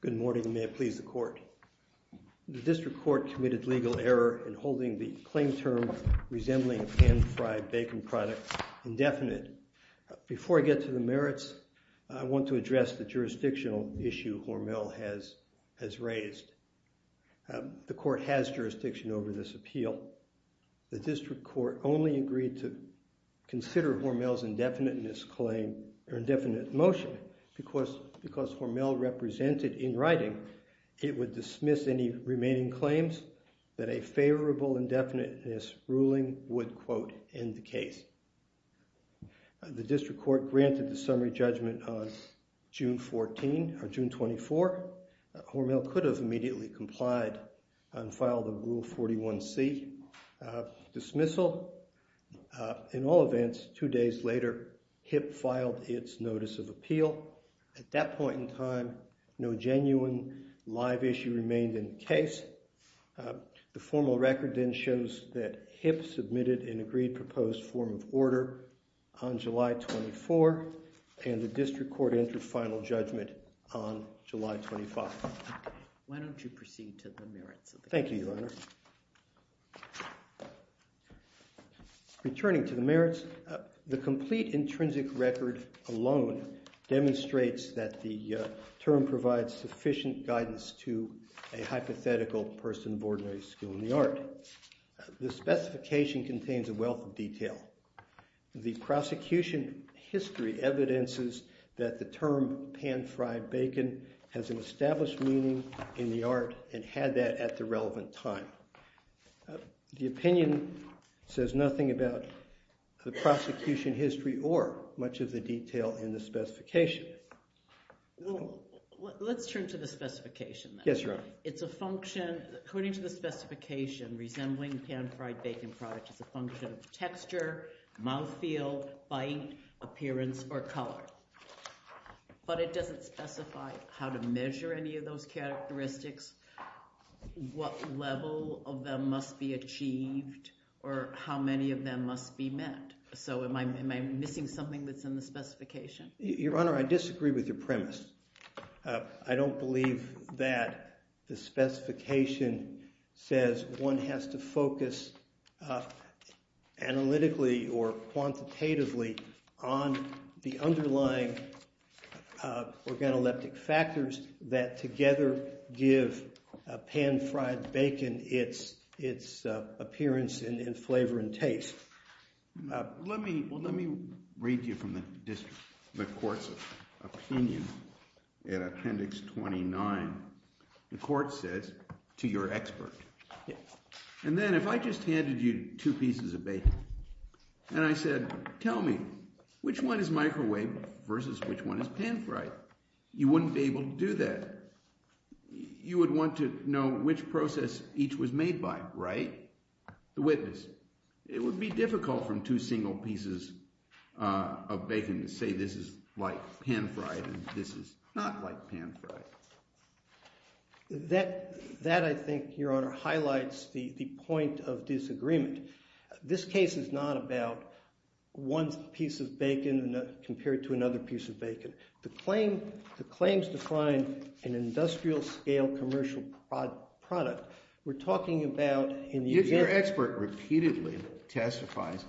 Good morning, and may it please the Court. The District Court committed legal error in holding the claim term resembling a pan-fried bacon product indefinite. Before I get to the merits, I want to address the jurisdictional issue Hormel has raised. The Court has jurisdiction over this appeal. The District Court only agreed to consider Hormel's indefiniteness motion because Hormel represented in writing it would dismiss any remaining claims that a favorable indefiniteness ruling would, quote, end the case. The District Court granted the summary judgment on June 14, or June 24. Hormel could have immediately complied and filed a Rule 41c dismissal. In all events, two days later, HIP filed its notice of appeal. At that point in time, no genuine live issue remained in the case. The formal record then shows that HIP submitted an agreed-proposed form of order on July 24, and the District Court entered final judgment on July 25. Why don't you proceed to the merits of the case? Thank you, Your Honor. Returning to the merits, the complete intrinsic record alone demonstrates that the term provides sufficient guidance to a hypothetical person of ordinary skill in the art. The specification contains a wealth of detail. The prosecution history evidences that the term pan-fried bacon has an established meaning in the art and had that at the relevant time. The opinion says nothing about the prosecution history or much of the detail in the specification. Well, let's turn to the specification then. Yes, Your Honor. It's a function, according to the specification, resembling pan-fried bacon product is a function of texture, mouthfeel, bite, appearance, or color. But it doesn't specify how to measure any of those characteristics, what level of them must be achieved, or how many of them must be met. So, am I missing something that's in the specification? Your Honor, I disagree with your premise. I don't believe that the specification says one has to focus analytically or quantitatively on the underlying organoleptic factors that together give pan-fried bacon its appearance and flavor and taste. Let me read you from the court's opinion in Appendix 29. The court says, to your expert, and then if I just handed you two pieces of bacon and I said, tell me, which one is microwave versus which one is pan-fried? You wouldn't be able to do that. You would want to know which process each was made by, right? The witness. It would be difficult from two single pieces of bacon to say this is like pan-fried and this is not like pan-fried. That, I think, Your Honor, highlights the point of disagreement. This case is not about one piece of bacon compared to another piece of bacon. The claims define an industrial-scale commercial product. We're talking about, in the event- The expert repeatedly testifies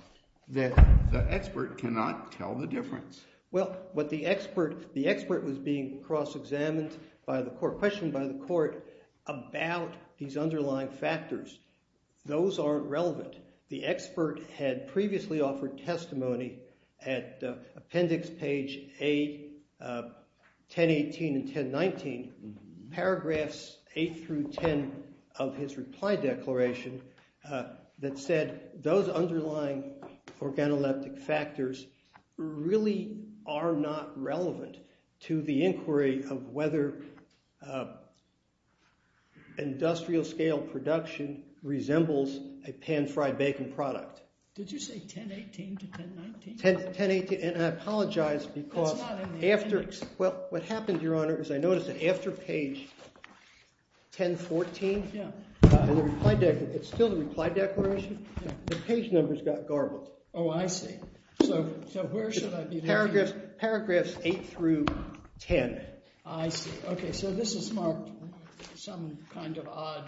that the expert cannot tell the difference. Well, the expert was being cross-examined by the court, questioned by the court about these underlying factors. Those aren't relevant. The expert had previously offered testimony at Appendix page 8, 1018 and 1019. Paragraphs 8 through 10 of his reply declaration that said those underlying organoleptic factors really are not relevant to the inquiry of whether industrial-scale production resembles a pan-fried bacon product. Did you say 1018 to 1019? 1018, and I apologize because- That's not in the appendix. Well, what happened, Your Honor, is I noticed that after page 1014, it's still the reply declaration, the page numbers got garbled. Oh, I see. So where should I be looking? Paragraphs 8 through 10. I see. Okay, so this is marked with some kind of odd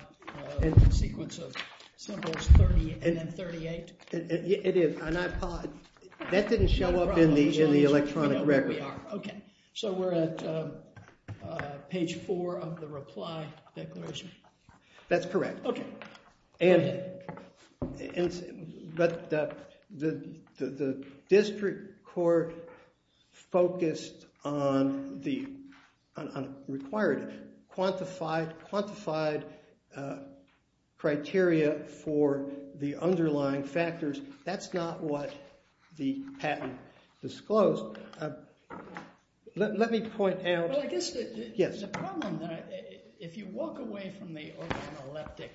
sequence of symbols, 38. It is. That didn't show up in the electronic record. So we're at page 4 of the reply declaration. That's correct. Okay. But the district court focused on the required quantified criteria for the underlying factors. That's not what the patent disclosed. Let me point out- Well, I guess the problem, if you walk away from the organoleptic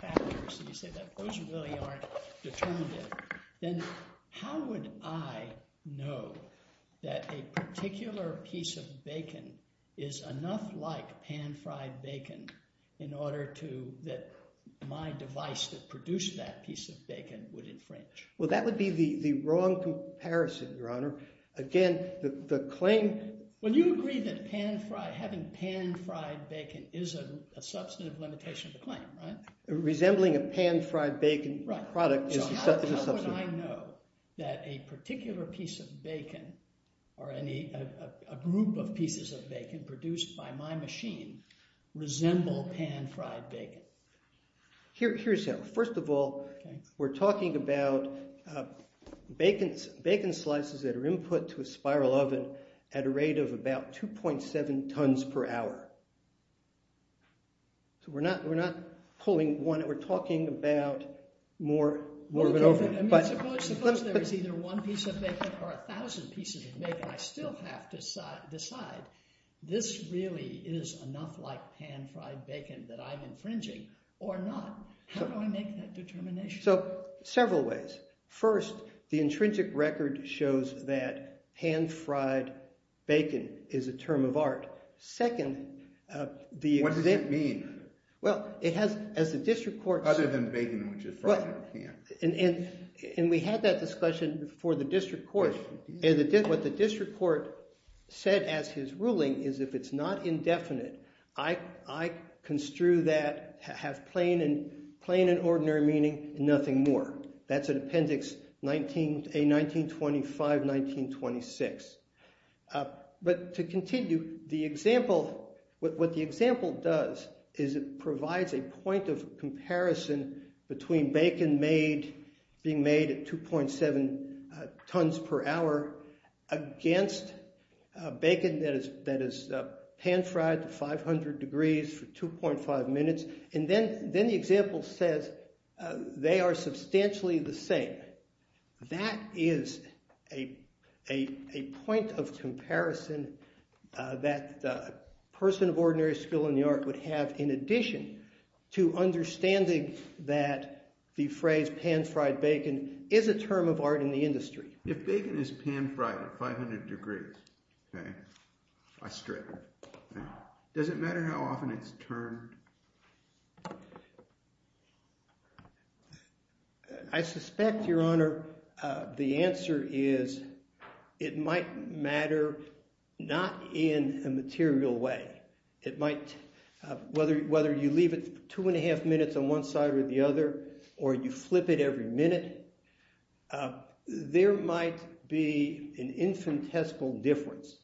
factors and you say that those really aren't determinative, then how would I know that a particular piece of bacon is enough like pan-fried bacon in order to- that my device that produced that piece of bacon would infringe? Well, that would be the wrong comparison, Your Honor. Again, the claim- Well, you agree that having pan-fried bacon is a substantive limitation of the claim, right? Resembling a pan-fried bacon product is a substantive- So how would I know that a particular piece of bacon or a group of pieces of bacon produced by my machine resemble pan-fried bacon? Here's how. First of all, we're talking about bacon slices that are input to a spiral oven at a rate of about 2.7 tons per hour. So we're not pulling one. We're talking about more of an oven. Suppose there is either one piece of bacon or a thousand pieces of bacon. I still have to decide, this really is enough like pan-fried bacon that I'm infringing or not. How do I make that determination? So, several ways. First, the intrinsic record shows that pan-fried bacon is a term of art. Second, the- What does it mean? Well, it has, as the district court- Other than bacon, which is fried in a pan. And we had that discussion before the district court. What the district court said as his ruling is if it's not indefinite, I construe that to have plain and ordinary meaning and nothing more. That's in Appendix A-1925-1926. But to continue, the example- What the example does is it provides a point of comparison between bacon made- being made at 2.7 tons per hour against bacon that is pan-fried at 500 degrees for 2.5 minutes. And then the example says they are substantially the same. That is a point of comparison that a person of ordinary skill in the art would have in addition to understanding that the phrase pan-fried bacon is a term of art in the industry. If bacon is pan-fried at 500 degrees, I strip it. Does it matter how often it's termed? I suspect, Your Honor, the answer is it might matter not in a material way. It might- Whether you leave it two and a half minutes on one side or the other or you flip it every minute, there might be an infinitesimal difference.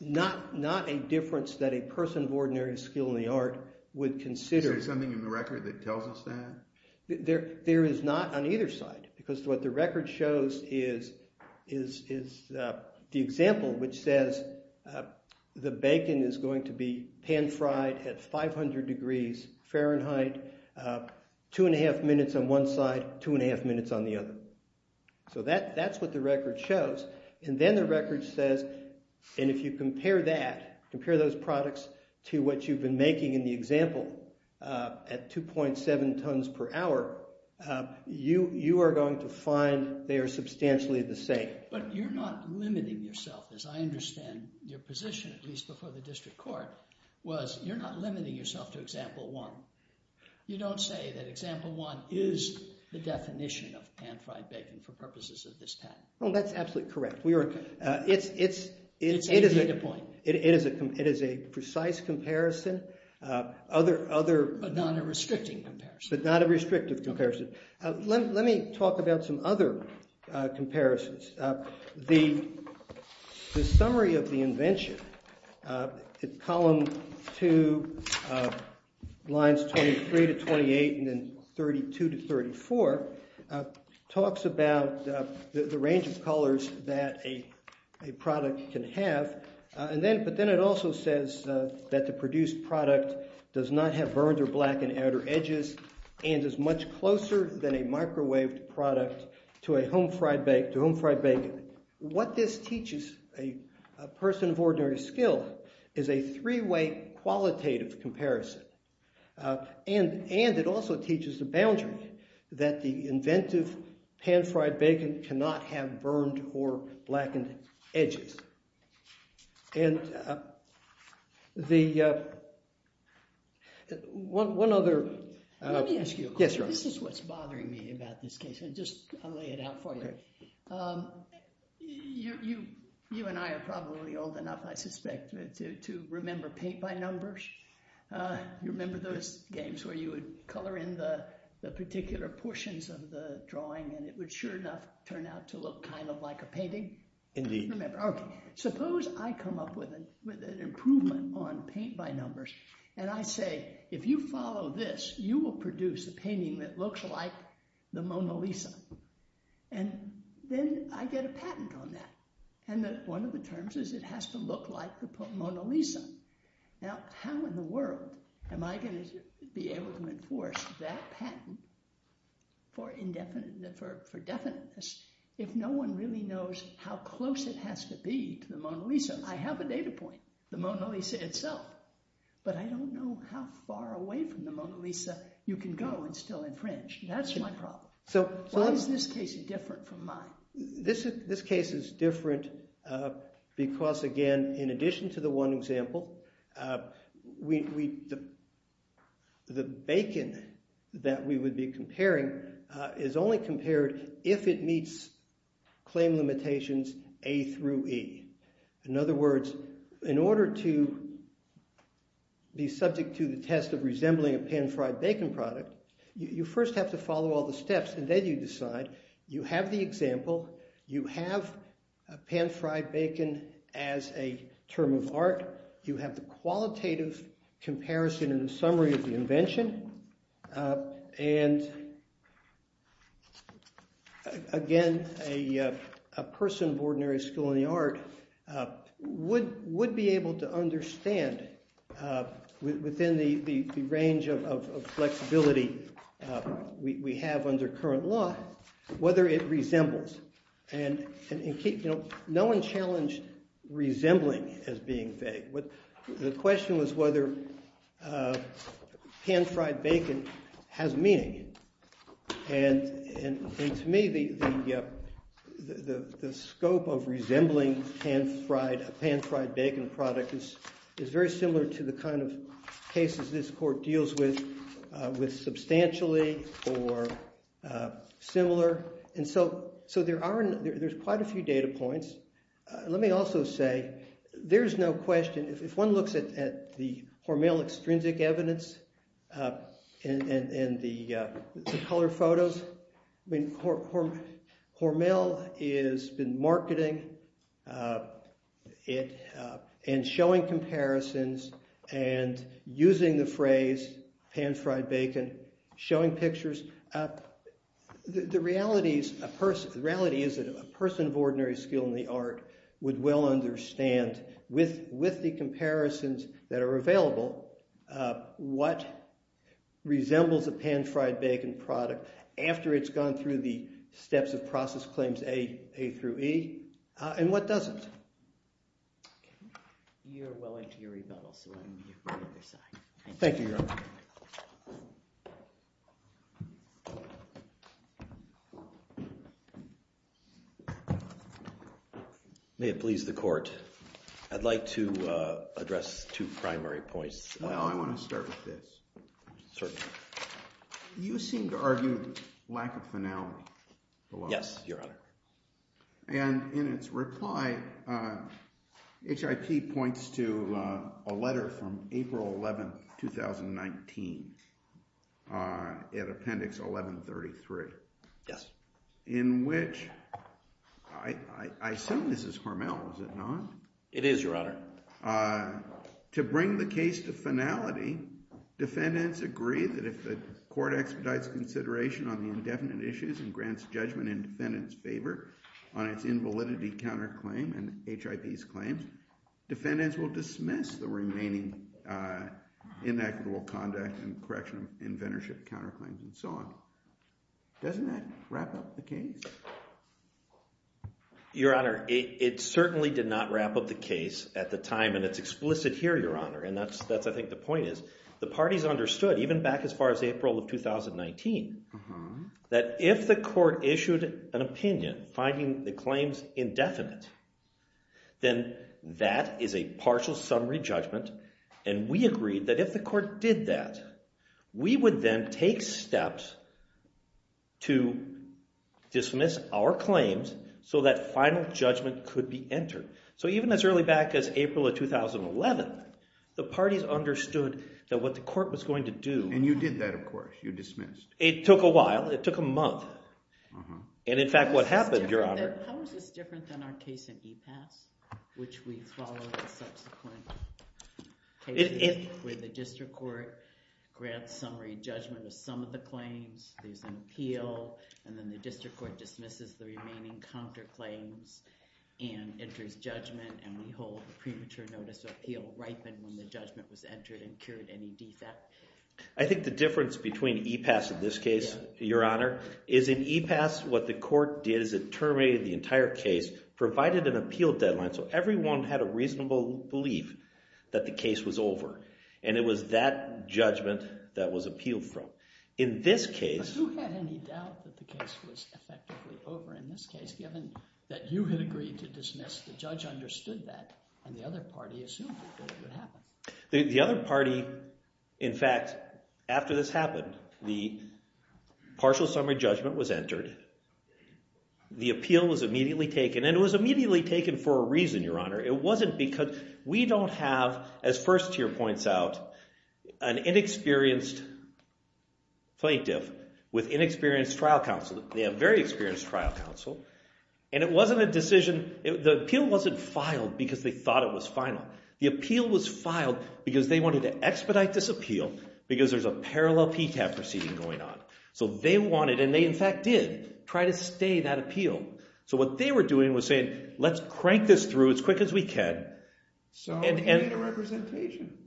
Not a difference that a person of ordinary skill in the art would consider- Is there something in the record that tells us that? There is not on either side. Because what the record shows is the example which says the bacon is going to be pan-fried at 500 degrees Fahrenheit two and a half minutes on one side two and a half minutes on the other. So that's what the record shows. And then the record says and if you compare that compare those products to what you've been making in the example at 2.7 tons per hour you are going to find they are substantially the same. But you're not limiting yourself as I understand your position at least before the district court was you're not limiting yourself to example one. You don't say that example one is the definition of pan-fried bacon for purposes of this patent. That's absolutely correct. It's a data point. It is a precise comparison other But not a restricting comparison. But not a restrictive comparison. Let me talk about some other comparisons. The summary of the invention column two lines 23 to 28 and 32 to 34 talks about the range of colors that a product can have but then it also says that the produced product does not have burned or blackened outer edges and is much closer than a microwaved product to a home fried bacon. What this teaches a person of ordinary skill is a three way qualitative comparison and it also teaches the boundary that the inventive pan-fried bacon cannot have burned or blackened edges and the one other Let me ask you a question. This is what's bothering me about this case. I'll lay it out for you. You and I are probably old enough I suspect to remember paint by numbers You remember those games where you would color in the particular portions of the drawing and it would sure enough turn out to look kind of like a painting? Indeed. Suppose I come up with an improvement on paint by numbers and I say if you follow this you will produce a painting that looks like the Mona Lisa and then I get a patent on that and one of the terms is it has to look like the Mona Lisa. Now how in the world am I going to be able to enforce that patent for definiteness if no one really knows how close it has to be to the Mona Lisa? I have a data point the Mona Lisa itself but I don't know how far away from the Mona Lisa you can go and still infringe. That's my problem. Why is this case different from mine? This case is different because again in addition to the one example we the bacon that we would be comparing is only compared if it meets claim limitations A through E. In other words, in order to be subject to the test of resembling a pan fried bacon product you first have to follow all the steps and then you decide you have the example you have a pan fried bacon as a term of art, you have the qualitative comparison and summary of the invention and again a person of ordinary school in the art would be able to understand within the range of flexibility we have under current law whether it resembles and no one challenged resembling as being vague the question was whether pan fried bacon has meaning and to me the scope of resembling pan fried bacon product is very similar to the kind of cases this court deals with substantially or similar and so there's quite a few data points let me also say there's no question if one looks at the Hormel extrinsic evidence and the color photos Hormel has been marketing and showing comparisons and using the phrase pan fried bacon and showing pictures the reality is that a person of ordinary skill in the art would well understand with the comparisons that are available what resembles a pan fried bacon product after it's gone through the steps of process claims A through E and what doesn't. You're willing to your rebuttal so I'll leave you for the other side. Thank you your honor. May it please the court I'd like to address two primary points. Well I want to start with this. Certainly. You seem to argue lack of finality. Yes your honor. And in its reply H.I.P. points to a letter from April 11th 2019 at appendix 1133. Yes. In which I assume this is Hormel is it not? It is your honor. To bring the case to finality defendants agree that if the court expedites consideration on the indefinite issues and grants judgment in validity counterclaim and H.I.P.'s claims defendants will dismiss the remaining inequitable conduct and correction of inventorship counterclaims and so on. Doesn't that wrap up the case? Your honor it certainly did not wrap up the case at the time and it's explicit here your honor and that's I think the point is the parties understood even back as far as April of 2019 that if the court issued an opinion finding the claims indefinite then that is a partial summary judgment and we agreed that if the court did that we would then take steps to dismiss our claims so that final judgment could be entered. So even as early back as April of 2011 the parties understood that what the court was going to do. And you did that of course you dismissed. It took a while it took a month and in fact what happened your honor How is this different than our case in EPAS which we followed in subsequent cases where the district court grants summary judgment of some of the claims, there's an appeal and then the district court dismisses the remaining counterclaims and enters judgment and we hold premature notice of appeal when the judgment was entered and cured any defect. I think the difference between EPAS and this case your honor, is in EPAS what the court did is it terminated the entire case, provided an appeal deadline so everyone had a reasonable belief that the case was over and it was that judgment that was appealed from. In this case. But who had any doubt that the case was effectively over in this case given that you had agreed to dismiss, the judge understood that and the other party assumed that it would happen The other party in fact, after this happened, the partial summary judgment was entered the appeal was immediately taken and it was immediately taken for a reason your honor, it wasn't because we don't have, as Firstier points out, an inexperienced plaintiff with inexperienced trial counsel they have very experienced trial counsel and it wasn't a decision the appeal wasn't filed because they thought it was final, the appeal was expedite this appeal because there's a parallel PCAP proceeding going on so they wanted, and they in fact did try to stay that appeal so what they were doing was saying, let's crank this through as quick as we can so you made a representation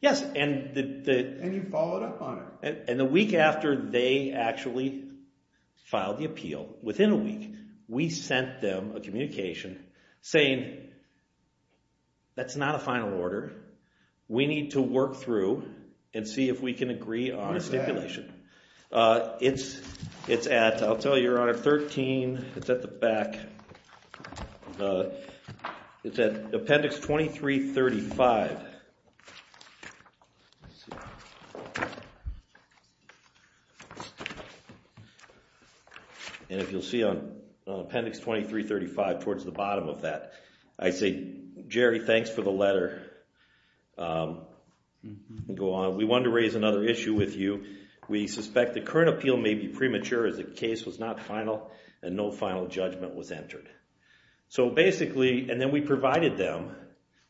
yes, and and you followed up on it and the week after they actually filed the appeal, within a week, we sent them a communication saying that's not a final order we need to work through and see if we can agree on a stipulation it's at, I'll tell you your honor, 13, it's at the back it's at appendix 2335 and if you'll see on appendix 2335 towards the bottom of that, I say Jerry, thanks for the letter go on, we wanted to raise another issue with you we suspect the current appeal may be premature as the case was not final and no final judgment was entered so basically and then we provided them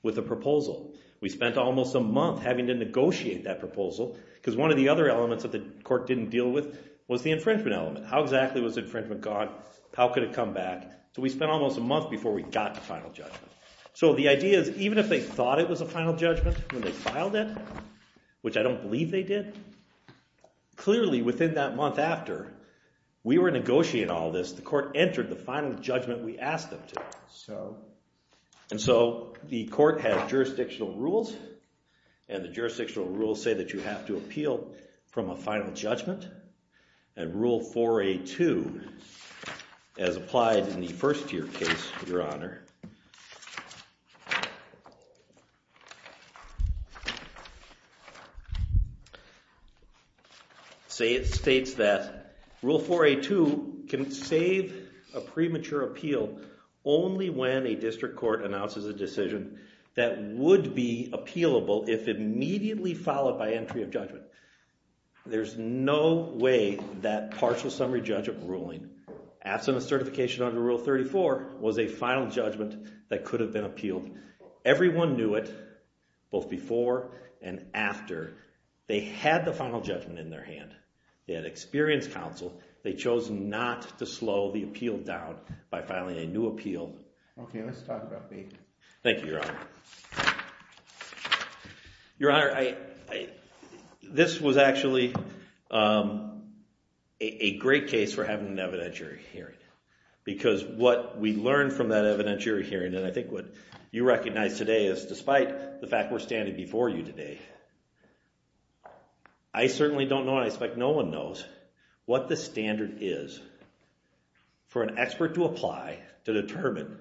with a proposal, we spent almost a month having to negotiate that proposal because one of the other elements that the court didn't deal with was the infringement element how exactly was infringement gone how could it come back, so we spent almost a month before we got the final judgment so the idea is even if they thought it was a final judgment when they filed it which I don't believe they did clearly within that month after we were negotiating all this, the court entered the final judgment we asked them to and so the court had jurisdictional rules and the jurisdictional rules say that you have to appeal from a final judgment and rule 4A2 as your honor states that rule 4A2 can save a premature appeal only when a district court announces a decision that would be appealable if immediately followed by entry of judgment there's no way that partial summary judge of ruling, absent of certification under rule 34 was a final judgment that could have been appealed everyone knew it both before and after they had the final judgment in their hand they had experience counsel they chose not to slow the appeal down by filing a new appeal thank you your honor your honor this was actually a great case for having an evidentiary hearing because what we learned from that evidentiary hearing and I think what you recognize today is despite the fact we're standing before you today I certainly don't know and I expect no one knows what the standard is for an expert to apply to determine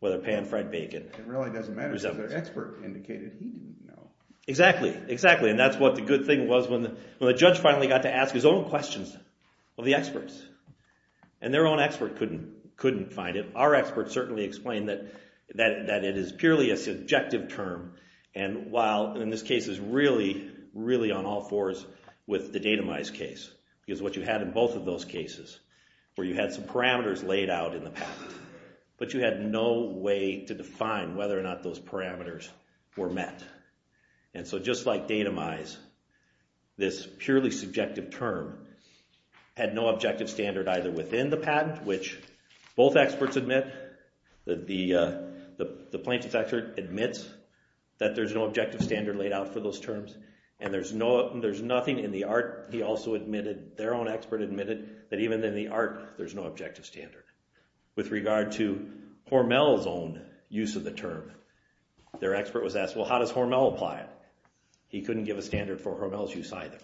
whether Pan, Fred, Bacon it really doesn't matter because the expert indicated he didn't know exactly and that's what the good thing was when the judge finally got to ask his own questions of the experts and their own expert couldn't find it. Our experts certainly explained that it is purely a subjective term and while in this case is really on all fours with the datamized case because what you had in both of those cases where you had some parameters laid out in the past but you had no way to define whether or not those parameters were met and so just like datamized this purely subjective term had no objective standard either within the patent which both experts admit the plaintiff's expert admits that there's no objective standard laid out for those terms and there's nothing in the art their own expert admitted that even in the art there's no objective standard with regard to Hormel's own use of the term their expert was asked how does Hormel apply it? He couldn't give a standard for Hormel's use either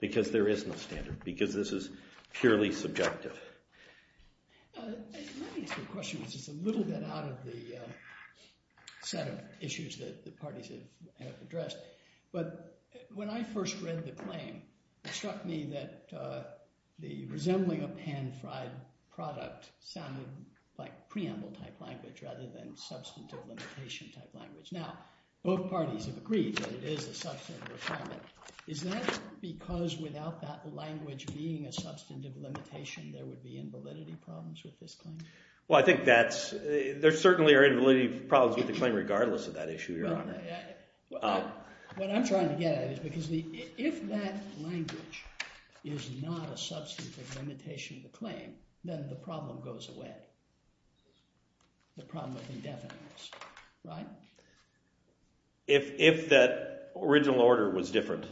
because there is no standard because this is purely subjective. Let me ask you a question which is a little bit out of the set of issues that the parties have addressed but when I first read the claim it struck me that the resembling of pan-fried product sounded like preamble type language rather than substantive limitation type language. Now both parties have agreed that it is a substantive requirement is that because without that language being a substantive limitation there would be invalidity problems with this claim? Well I think that's there certainly are invalidity problems with the claim regardless of that issue your honor. What I'm trying to get at is because if that language is not a substantive limitation of the claim then the problem goes away. The problem is indefiniteness, right? If that original order was different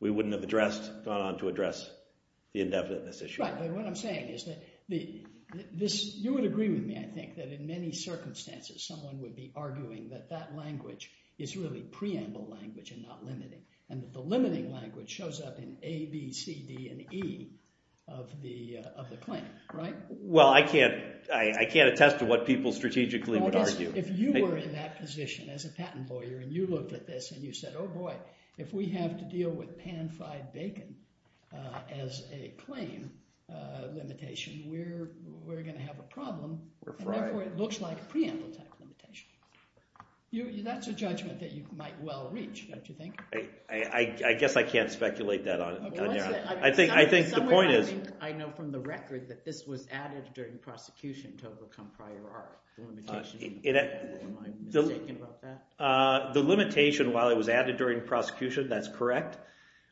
we wouldn't have addressed gone on to address the indefiniteness issue. Right, but what I'm saying is that you would agree with me I think that in many circumstances someone would be arguing that that language is really preamble language and not limiting and that the limiting language shows up in A, B, C, D, and E of the claim, right? Well I can't attest to what people strategically would argue. If you were in that position as a patent lawyer and you looked at this and you said oh boy, if we have to deal with pan fried bacon as a claim limitation we're going to have a problem and therefore it looks like a preamble type limitation. That's a judgment that you might well reach, don't you think? I guess I can't speculate that on you. I think the point is I know from the record that this was added during prosecution to overcome prior art. Am I mistaken about that? The limitation while it was added during prosecution, that's correct.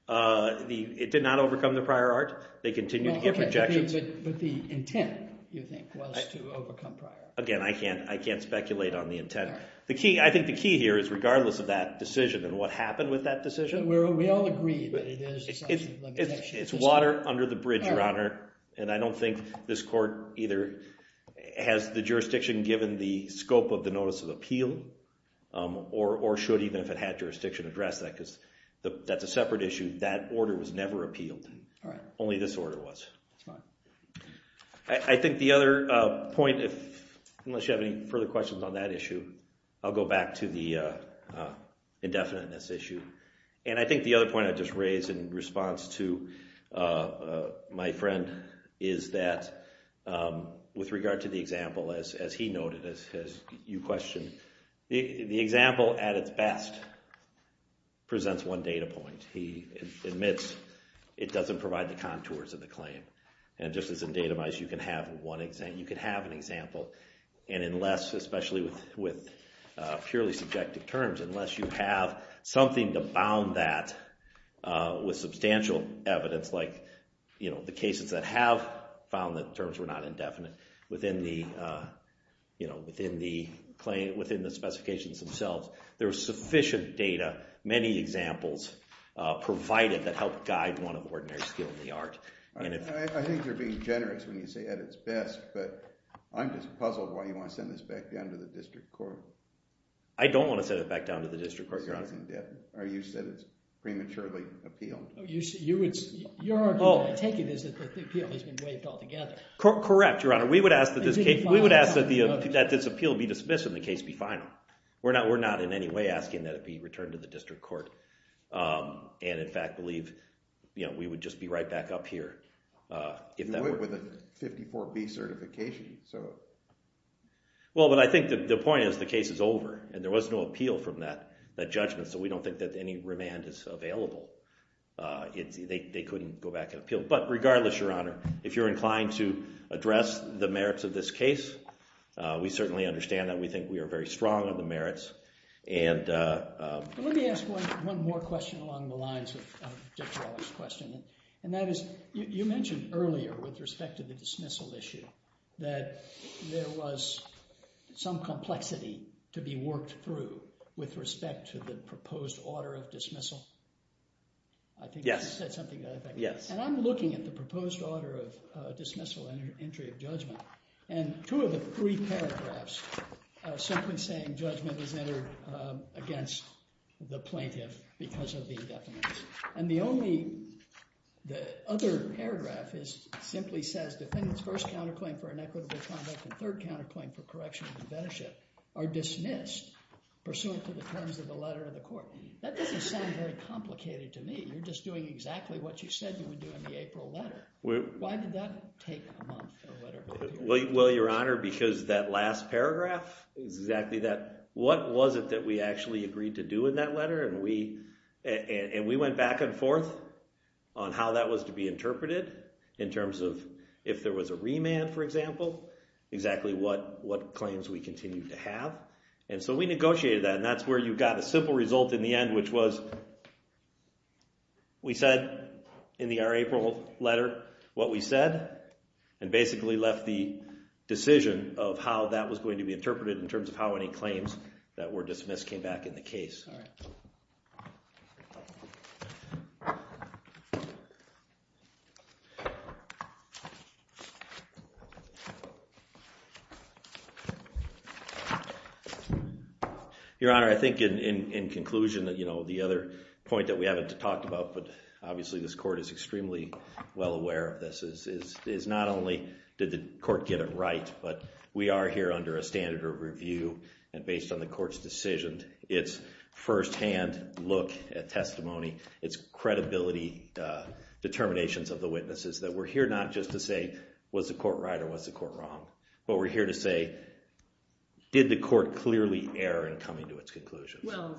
It did not overcome the prior art. They continue to give projections. But the intent, you think, was to overcome prior art. Again, I can't speculate on the intent. I think the key here is regardless of that We all agree that it is a limitation. It's water under the bridge, Your Honor. I don't think this court either has the jurisdiction given the scope of the notice of appeal or should even if it had jurisdiction address that because that's a separate issue. That order was never appealed. Only this order was. I think the other point, unless you have any further questions on that issue, I'll go back to the indefiniteness issue. I think the other point I just raised in response to my friend is that with regard to the example as he noted, as you questioned, the example at its best presents one data point. He admits it doesn't provide the contours of the claim. Just as in datamized, you can have an example. Unless, especially with purely subjective terms, unless you have something to bound that with substantial evidence like the cases that have found that the terms were not indefinite within the specifications themselves. There's sufficient data, many examples provided that help guide one of ordinary skill in the art. I think you're being generous when you say at its best, but I'm just puzzled why you want to send this back down to the district court. I don't want to send it back down to the district court, Your Honor. You said it's prematurely appealed. Your argument, I take it, is that the appeal has been waived altogether. Correct, Your Honor. We would ask that this appeal be dismissed and the case be final. We're not in any way asking that it be returned to the district court. And, in fact, believe we would just be right back up here. With a 54B certification. Well, but I think the point is the case is over. And there was no appeal from that judgment, so we don't think that any remand is available. They couldn't go back and appeal. But, regardless, Your Honor, if you're inclined to address the merits of this case, we certainly understand that. We think we are very strong on the merits. Let me ask one more question along the lines of Judge Rollins' question. You mentioned earlier, with respect to the dismissal issue, that there was some complexity to be worked through with respect to the proposed order of dismissal. Yes. And I'm looking at the proposed order of dismissal and entry of judgment, and two of the three paragraphs are simply saying judgment is entered against the plaintiff because of the indefinite. The other paragraph simply says defendant's first counterclaim for inequitable conduct and third counterclaim for correction of inventorship are dismissed pursuant to the terms of the letter of the court. That doesn't sound very complicated to me. You're just doing exactly what you said you would do in the April letter. Why did that take a month? Well, Your Honor, because that last paragraph is exactly that. What was it that we actually agreed to do in that letter? And we went back and forth on how that was to be interpreted in terms of if there was a remand, for example, exactly what claims we continued to have. And so we negotiated that, and that's where you got a simple result in the end, which was we said in our April letter what we said and basically left the decision of how that was going to be interpreted in terms of how any claims that were dismissed came back in the case. Your Honor, I think in conclusion the other point that we haven't talked about, but obviously this court is extremely well aware of this, is not only did the court get it right, but we are here under a standard of review and based on the court's decision, it's first-hand look at testimony, it's credibility determinations of the witnesses, that we're here not just to say, well, was the court right or was the court wrong, but we're here to say did the court clearly err in coming to its conclusions? Well,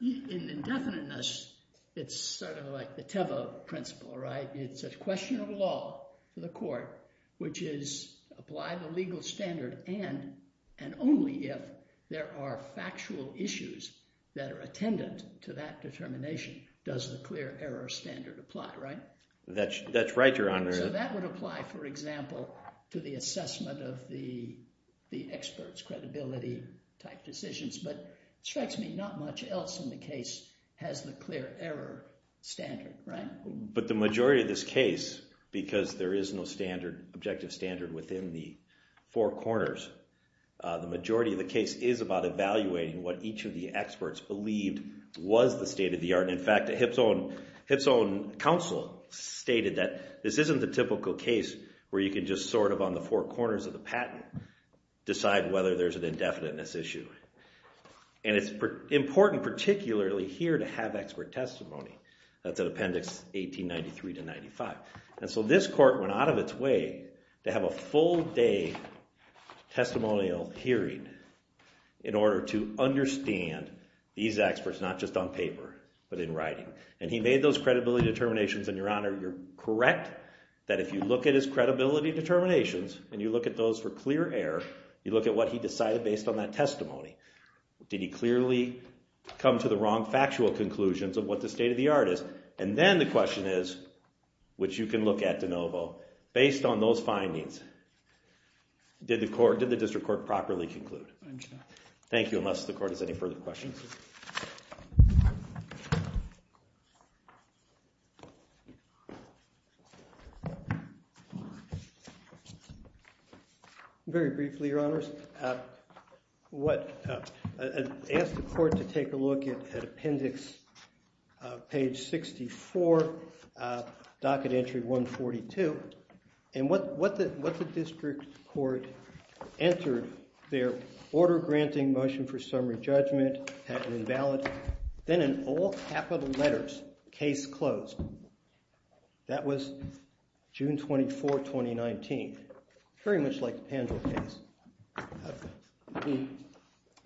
in indefiniteness it's sort of like the Teva principle, right? It's a question of law for the court, which is apply the legal standard and only if there are factual issues that are attendant to that determination, does the clear error standard apply, right? That's right, Your Honor. So that would apply, for example, to the assessment of the experts' credibility type decisions, but it strikes me not much else in the case has the clear error standard, right? But the majority of this case because there is no objective standard within the four corners, the majority of the case is about evaluating what each of the experts believed was the state of the art. In fact, Hip's own counsel stated that this isn't the typical case where you can just sort of on the four corners of the patent decide whether there's an indefiniteness issue. And it's important particularly here to have expert testimony. That's Appendix 1893 to 95. And so this court went out of its way to have a full day testimonial hearing in order to understand these experts not just on paper, but in writing. And he made those credibility determinations, and Your Honor, you're correct, that if you look at his credibility determinations and you look at those for clear error, you look at what he decided based on that testimony. Did he clearly come to the wrong factual conclusions of what the state of the art is? And then the question is, which you can look at, DeNovo, based on those findings, did the district court properly conclude? Thank you. Unless the court has any further questions. Very briefly, Your Honors. I asked the court to take a look at Appendix page 64, docket entry 142, and what the district court entered their order granting motion for summary judgment had been valid. Then in all capital letters, case closed. That was June 24, 2019. Very much like the Pendle case.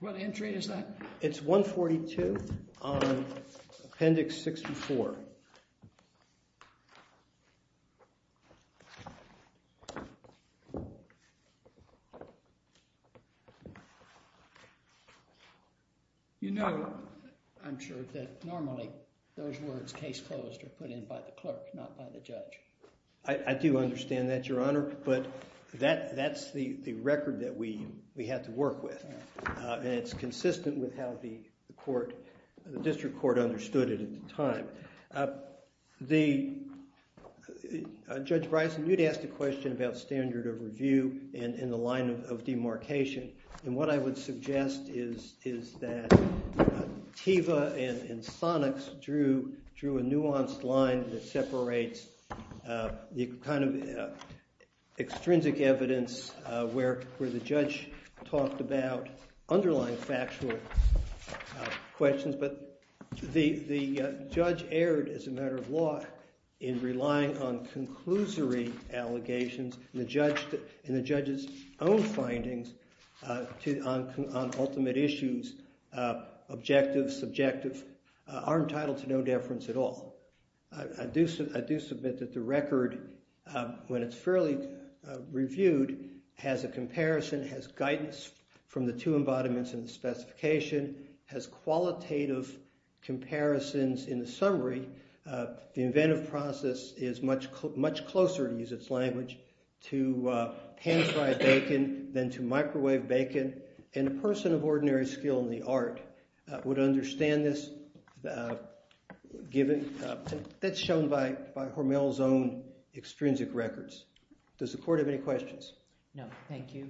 What entry is that? It's 142 on Appendix 64. You know, I'm sure, that normally those words, case closed, are put in by the clerk, not by the judge. I do understand that, Your Honor, but that's the record that we had to work with, and it's consistent with how the court, the district court understood it at the time. Judge Bryson, you'd asked a question about standard of review in the line of demarcation, and what I would suggest is that Teva and Sonics drew a nuanced line that separates the kind of extrinsic evidence where the judge talked about underlying factual questions, but the judge erred, as a matter of law, in relying on conclusory allegations, and the judge's own findings on ultimate issues, objective, subjective, are entitled to no deference at all. I do submit that the record, when it's fairly reviewed, has a comparison, has guidance from the two embodiments in the specification, has qualitative comparisons in the summary. The inventive process is much closer, to use its language, to hand-fried bacon than to microwave bacon, and a person of ordinary skill in the art would understand this that's shown by Hormel's own extrinsic records. Does the court have any questions? No, thank you.